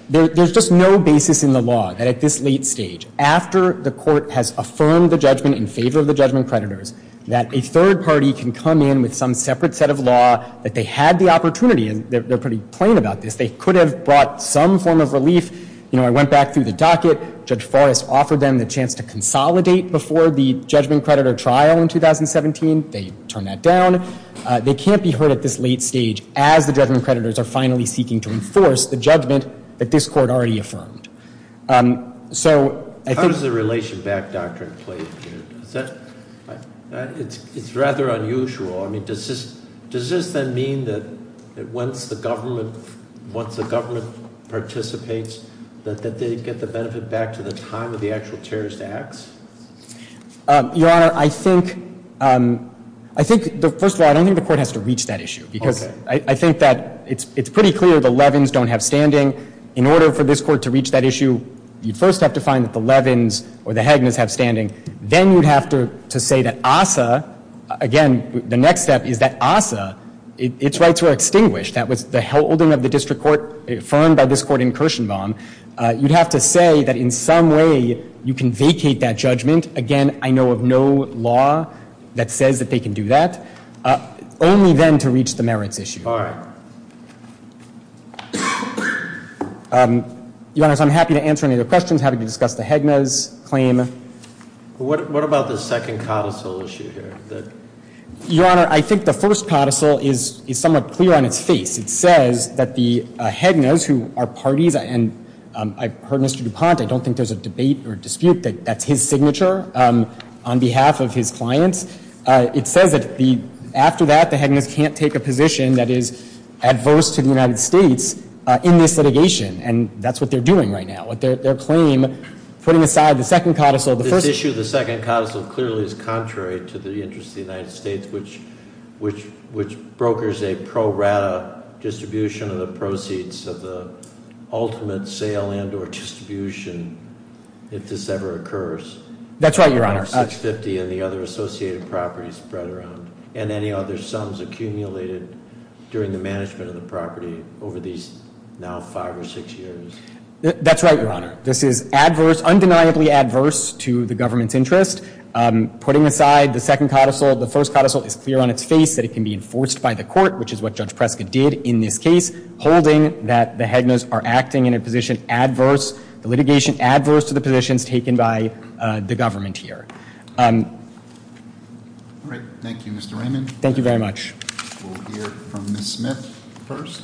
there's just no basis in the law that at this late stage, after the court has affirmed the judgment in favor of the judgment creditors, that a third party can come in with some separate set of law that they had the opportunity. And they're pretty plain about this. They could have brought some form of relief. You know, I went back through the docket. Judge Forrest offered them the chance to consolidate before the judgment creditor trial in 2017. They turned that down. They can't be heard at this late stage as the judgment creditors are finally seeking to enforce the judgment that this court already affirmed. So I think- How does the relation back doctrine play in here? It's rather unusual. I mean, does this then mean that once the government participates, that they get the benefit back to the time of the actual terrorist acts? Your Honor, I think, first of all, I don't think the court has to reach that issue. Because I think that it's pretty clear the Levins don't have standing. In order for this court to reach that issue, you first have to find that the Levins or the Haginas have standing. Then you'd have to say that ASA, again, the next step is that ASA, its rights were extinguished. That was the holding of the district court affirmed by this court in Kirshenbaum. You'd have to say that in some way, you can vacate that judgment. Again, I know of no law that says that they can do that. Only then to reach the merits issue. All right. Your Honor, I'm happy to answer any other questions. Happy to discuss the Haginas claim. What about the second codicil issue here? Your Honor, I think the first codicil is somewhat clear on its face. It says that the Haginas, who are parties, and I've heard Mr. DuPont, I don't think there's a debate or dispute that that's his signature on behalf of his clients. It says that after that, the Haginas can't take a position that is adverse to the United States in this litigation, and that's what they're doing right now. With their claim, putting aside the second codicil, the first- This issue, the second codicil, clearly is contrary to the interests of the United States, which brokers a pro rata distribution of the proceeds of the ultimate sale and or distribution, That's right, Your Honor. and the other associated properties spread around, and any other sums accumulated during the management of the property over these now five or six years. That's right, Your Honor. This is adverse, undeniably adverse to the government's interest. Putting aside the second codicil, the first codicil is clear on its face that it can be enforced by the court, which is what Judge Prescott did in this case, holding that the Haginas are acting in a position adverse, the litigation adverse to the positions taken by the government here. All right. Thank you, Mr. Raymond. Thank you very much. We'll hear from Ms. Smith first.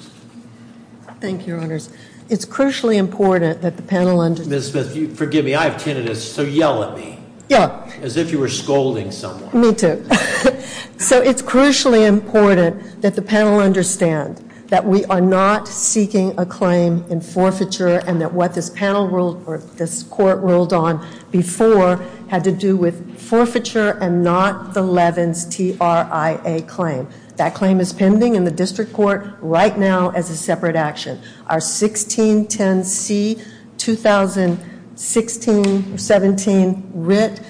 Thank you, Your Honors. It's crucially important that the panel understand- Ms. Smith, forgive me, I have tinnitus, so yell at me. Yeah. As if you were scolding someone. Me too. So it's crucially important that the panel understand that we are not seeking a claim in forfeiture and that what this panel ruled or this court ruled on before had to do with forfeiture and not the Levin's TRIA claim. That claim is pending in the district court right now as a separate action. Our 1610C-2016-17 writ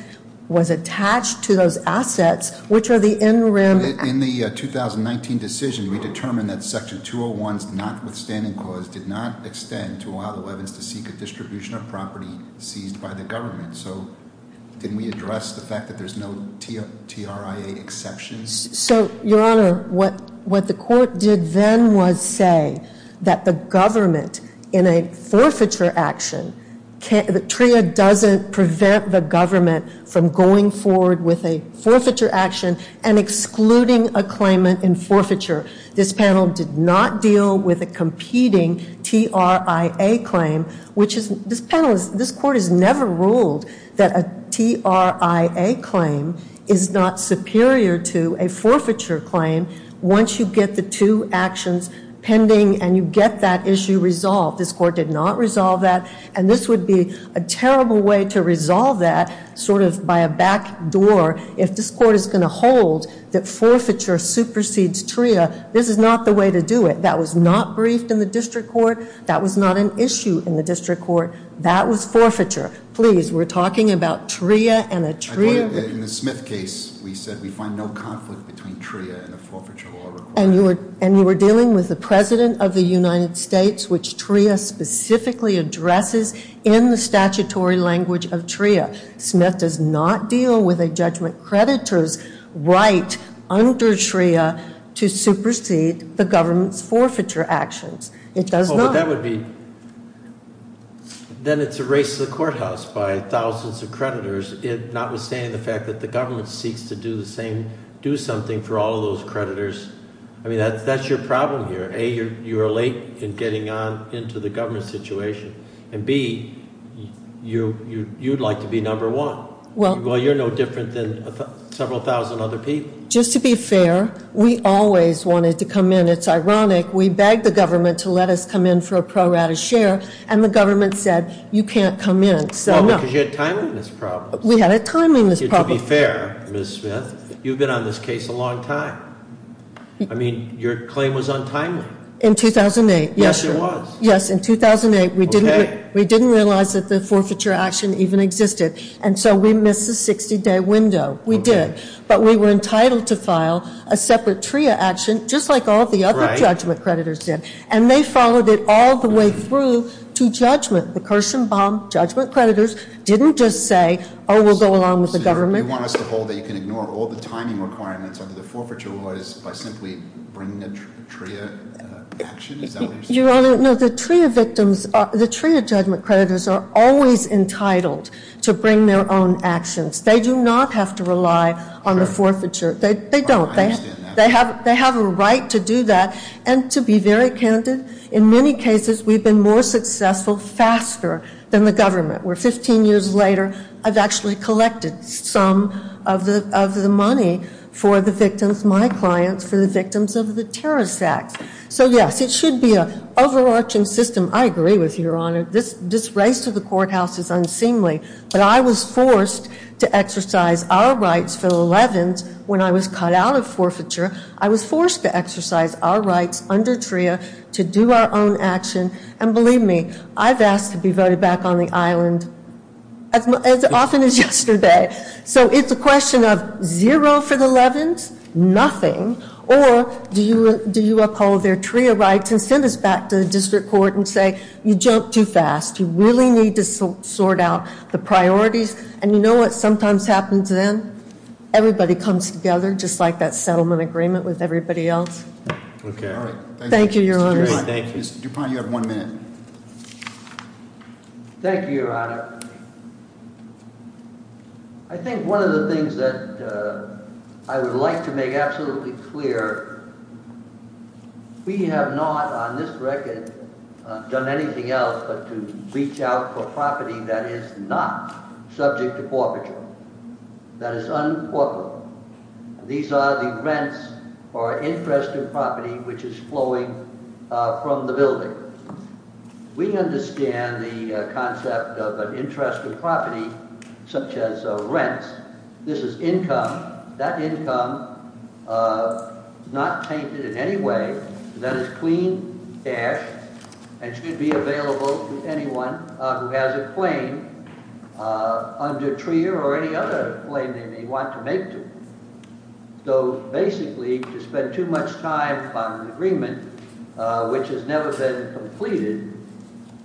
was attached to those assets, which are the in rim- In the 2019 decision, we determined that section 201's notwithstanding clause did not Did we address the fact that there's no TRIA exception? So, Your Honor, what the court did then was say that the government in a forfeiture action, TRIA doesn't prevent the government from going forward with a forfeiture action and excluding a claimant in forfeiture. This panel did not deal with a competing TRIA claim, which is- That a TRIA claim is not superior to a forfeiture claim once you get the two actions pending and you get that issue resolved. This court did not resolve that. And this would be a terrible way to resolve that sort of by a back door if this court is going to hold that forfeiture supersedes TRIA. This is not the way to do it. That was not briefed in the district court. That was not an issue in the district court. That was forfeiture. Please, we're talking about TRIA and a TRIA- In the Smith case, we said we find no conflict between TRIA and a forfeiture law required. And you were dealing with the President of the United States, which TRIA specifically addresses in the statutory language of TRIA. Smith does not deal with a judgment creditor's right under TRIA to supersede the government's forfeiture actions. It does not. But that would be, then it's a race to the courthouse by thousands of creditors, notwithstanding the fact that the government seeks to do the same, do something for all of those creditors. I mean, that's your problem here. A, you are late in getting on into the government situation. And B, you'd like to be number one. Well, you're no different than several thousand other people. Just to be fair, we always wanted to come in. It's ironic. We begged the government to let us come in for a pro rata share. And the government said, you can't come in. Well, because you had timeliness problems. We had a timeliness problem. To be fair, Ms. Smith, you've been on this case a long time. I mean, your claim was untimely. In 2008. Yes, it was. Yes, in 2008. We didn't realize that the forfeiture action even existed. And so we missed the 60-day window. We did. But we were entitled to file a separate TRIA action, just like all the other judgment creditors did. And they followed it all the way through to judgment. The Kirshenbaum judgment creditors didn't just say, oh, we'll go along with the government. So you want us to hold that you can ignore all the timing requirements under the forfeiture laws by simply bringing a TRIA action? Is that what you're saying? No, the TRIA victims, the TRIA judgment creditors are always entitled to bring their own actions. They do not have to rely on the forfeiture. They don't. They have a right to do that. And to be very candid, in many cases, we've been more successful faster than the government, where 15 years later, I've actually collected some of the money for the victims, my clients, for the victims of the terrorist acts. So yes, it should be an overarching system. I agree with you, Your Honor. This race to the courthouse is unseemly. But I was forced to exercise our rights for the 11th when I was cut out of forfeiture. I was forced to exercise our rights under TRIA to do our own action. And believe me, I've asked to be voted back on the island as often as yesterday. So it's a question of zero for the 11th, nothing, or do you uphold their TRIA rights and send us back to the district court and say, you jumped too fast. You really need to sort out the priorities. And you know what sometimes happens then? Everybody comes together, just like that settlement agreement with everybody else. Thank you, Your Honor. Mr. Dupont, you have one minute. Thank you, Your Honor. I think one of the things that I would like to make absolutely clear, we have not, on this record, done anything else but to reach out for property that is not subject to forfeiture. That is un-corporate. These are the rents or interest in property which is flowing from the building. We understand the concept of an interest in property such as rents. This is income, that income not tainted in any way. That is clean cash and should be available to anyone who has a claim under TRIA or any other claim they may want to make to. So basically, to spend too much time on an agreement, which has never been completed,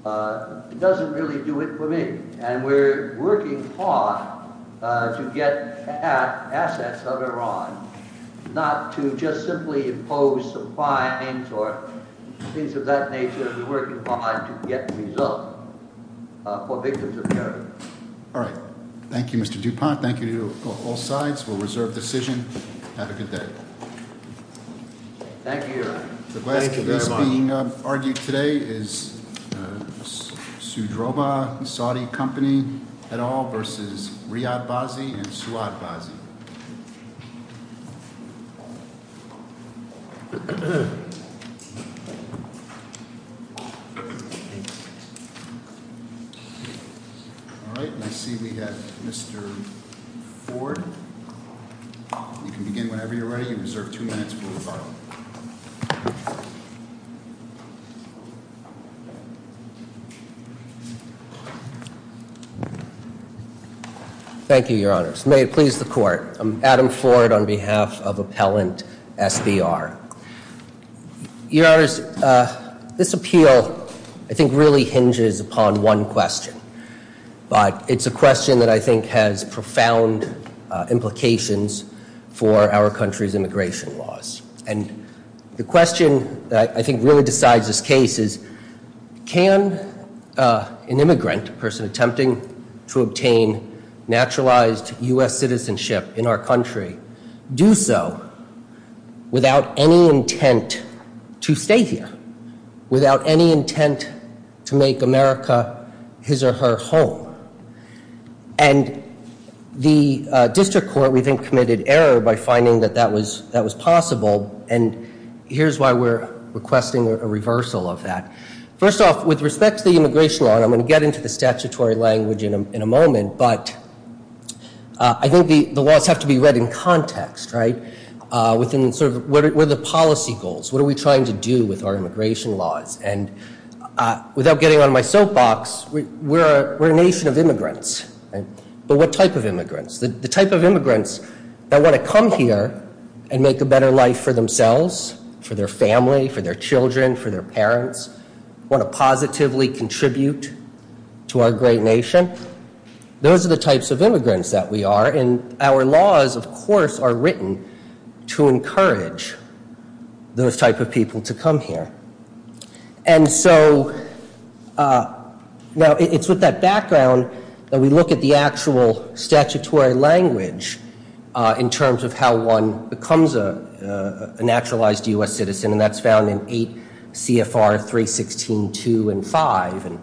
doesn't really do it for me. And we're working hard to get at assets of Iran, not to just simply impose some fines or things of that nature. We're working hard to get results. For victims of terrorism. All right. Thank you, Mr. DuPont. Thank you to all sides for a reserved decision. Have a good day. Thank you, Your Honor. The question that's being argued today is Sudroba and Saudi Company et al. versus Riyad Bazzi and Suad Bazzi. All right. I see we have Mr. Ford. You can begin whenever you're ready. You reserve two minutes for rebuttal. Thank you, Your Honors. May it please the Court. I'm Adam Ford on behalf of Appellant SBR. Your Honors, this appeal, I think, really hinges upon one question. But it's a question that I think has profound implications for our country's immigration laws. And the question that I think really decides this case is, can an immigrant, a person attempting to obtain naturalized U.S. citizenship in our country, do so without any intent to stay here? Without any intent to make America his or her home? And the District Court, we think, committed error by finding that that was possible. And here's why we're requesting a reversal of that. First off, with respect to the immigration law, and I'm gonna get into the statutory language in a moment, but I think the laws have to be read in context, right? Within sort of, what are the policy goals? What are we trying to do with our immigration laws? And without getting on my soapbox, we're a nation of immigrants, right? But what type of immigrants? The type of immigrants that wanna come here and make a better life for themselves, for their family, for their children, for their parents, wanna positively contribute to our great nation, those are the types of immigrants that we are. And our laws, of course, are written to encourage those type of people to come here. And so, now, it's with that background that we look at the actual statutory language in terms of how one becomes a naturalized U.S. citizen, and that's found in 8 CFR 316.2 and 5. And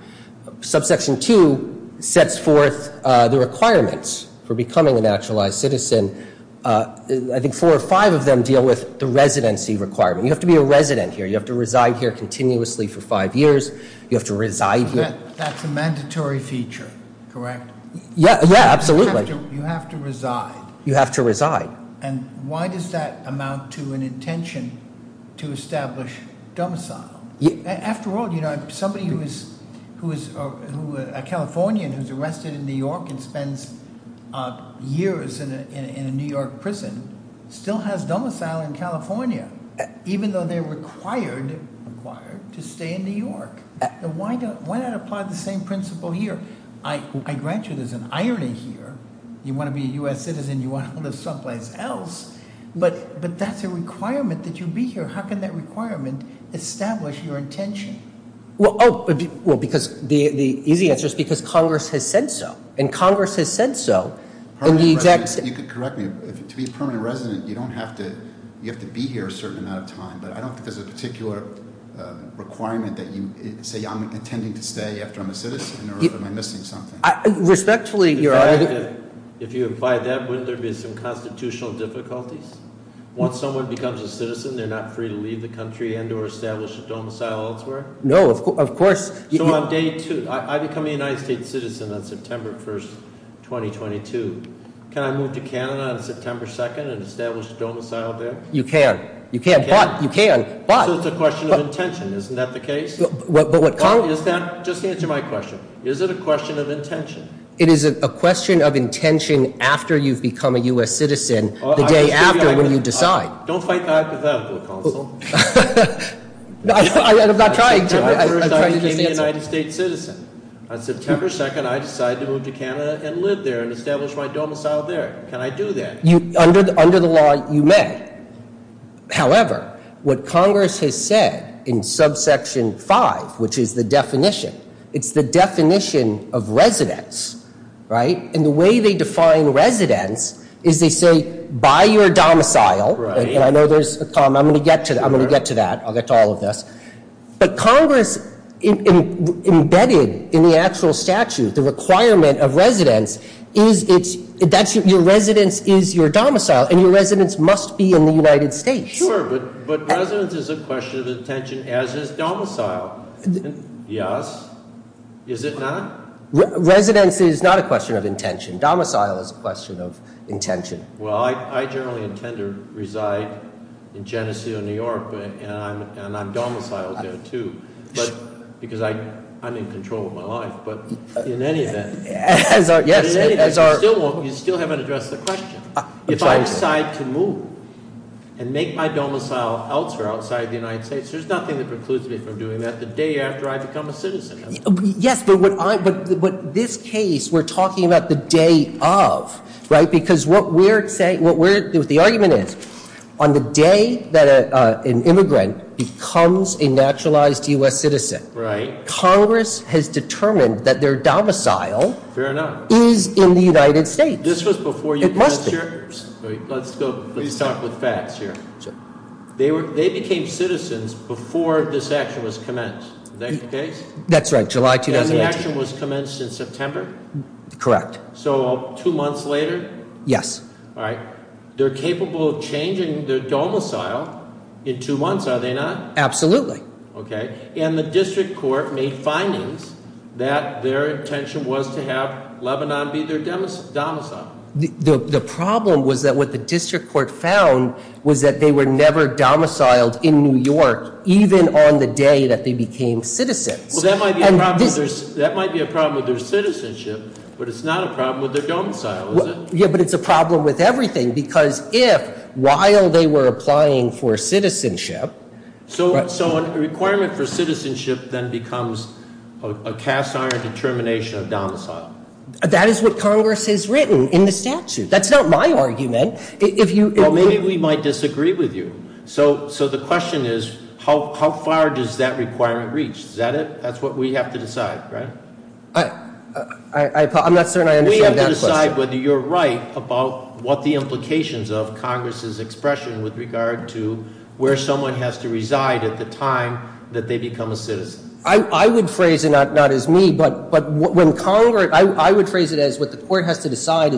Subsection 2 sets forth the requirements for becoming a naturalized citizen. And I think four or five of them deal with the residency requirement. You have to be a resident here. You have to reside here continuously for five years. You have to reside here. That's a mandatory feature, correct? Yeah, absolutely. You have to reside. You have to reside. And why does that amount to an intention After all, somebody who is a Californian who's arrested in New York and spends years in a New York prison still has domicile in California, even though they're required to stay in New York. Why not apply the same principle here? I grant you there's an irony here. You want to be a U.S. citizen. You want to live someplace else. But that's a requirement that you be here. How can that requirement establish your intention? Well, because the easy answer is because Congress has said so. And Congress has said so. You could correct me. To be a permanent resident, you have to be here a certain amount of time. But I don't think there's a particular requirement that you say, I'm intending to stay after I'm a citizen or am I missing something? Respectfully, your honor. If you apply that, wouldn't there be some constitutional difficulties? Once someone becomes a citizen, they're not free to leave the country and or establish a domicile elsewhere? No, of course. So on day two, I become a United States citizen on September 1st, 2022. Can I move to Canada on September 2nd and establish a domicile there? You can. You can, but you can. So it's a question of intention. Isn't that the case? Just answer my question. Is it a question of intention? It is a question of intention after you've become a U.S. citizen the day after when you decide. Don't fight back with that, counsel. I'm not trying to. On September 1st, I became a United States citizen. On September 2nd, I decided to move to Canada and live there and establish my domicile there. Can I do that? Under the law, you may. However, what Congress has said in subsection 5, which is the definition, it's the definition of residence, right? And the way they define residence is they say, by your domicile. I know there's a comma. I'm going to get to that. I'm going to get to that. I'll get to all of this. But Congress, embedded in the actual statute, the requirement of residence, your residence is your domicile, and your residence must be in the United States. Sure, but residence is a question of intention, as is domicile. Yes. Is it not? Residence is not a question of intention. Domicile is a question of intention. Well, I generally intend to reside in Geneseo, New York, and I'm domiciled there, too. Because I'm in control of my life. But in any event, you still haven't addressed the question. If I decide to move and make my domicile elsewhere, outside the United States, there's nothing that precludes me from doing that the day after I become a citizen. Yes, but this case, we're talking about the day of, right? Because what we're saying, what the argument is, on the day that an immigrant becomes a naturalized U.S. citizen, Congress has determined that their domicile- Fair enough. Is in the United States. This was before you- It must be. Let's go, let's talk with facts here. They became citizens before this action was commenced. Is that your case? That's right, July 2018. And the action was commenced in September? Correct. So two months later? Yes. All right. They're capable of changing their domicile in two months, are they not? Absolutely. Okay. And the district court made findings that their intention was to have Lebanon be their domicile. The problem was that what the district court found was that they were never domiciled in New York, even on the day that they became citizens. Well, that might be a problem with their citizenship, but it's not a problem with their domicile, is it? Yeah, but it's a problem with everything. If while they were applying for citizenship- So a requirement for citizenship then becomes a cast iron determination of domicile. That is what Congress has written in the statute. That's not my argument. Maybe we might disagree with you. So the question is, how far does that requirement reach? Is that it? That's what we have to decide, right? I'm not certain I understand that question. We have to decide whether you're right about what the implications of Congress's expression with regard to where someone has to reside at the time that they become a citizen. I would phrase it not as me, but I would phrase it as what the court has to decide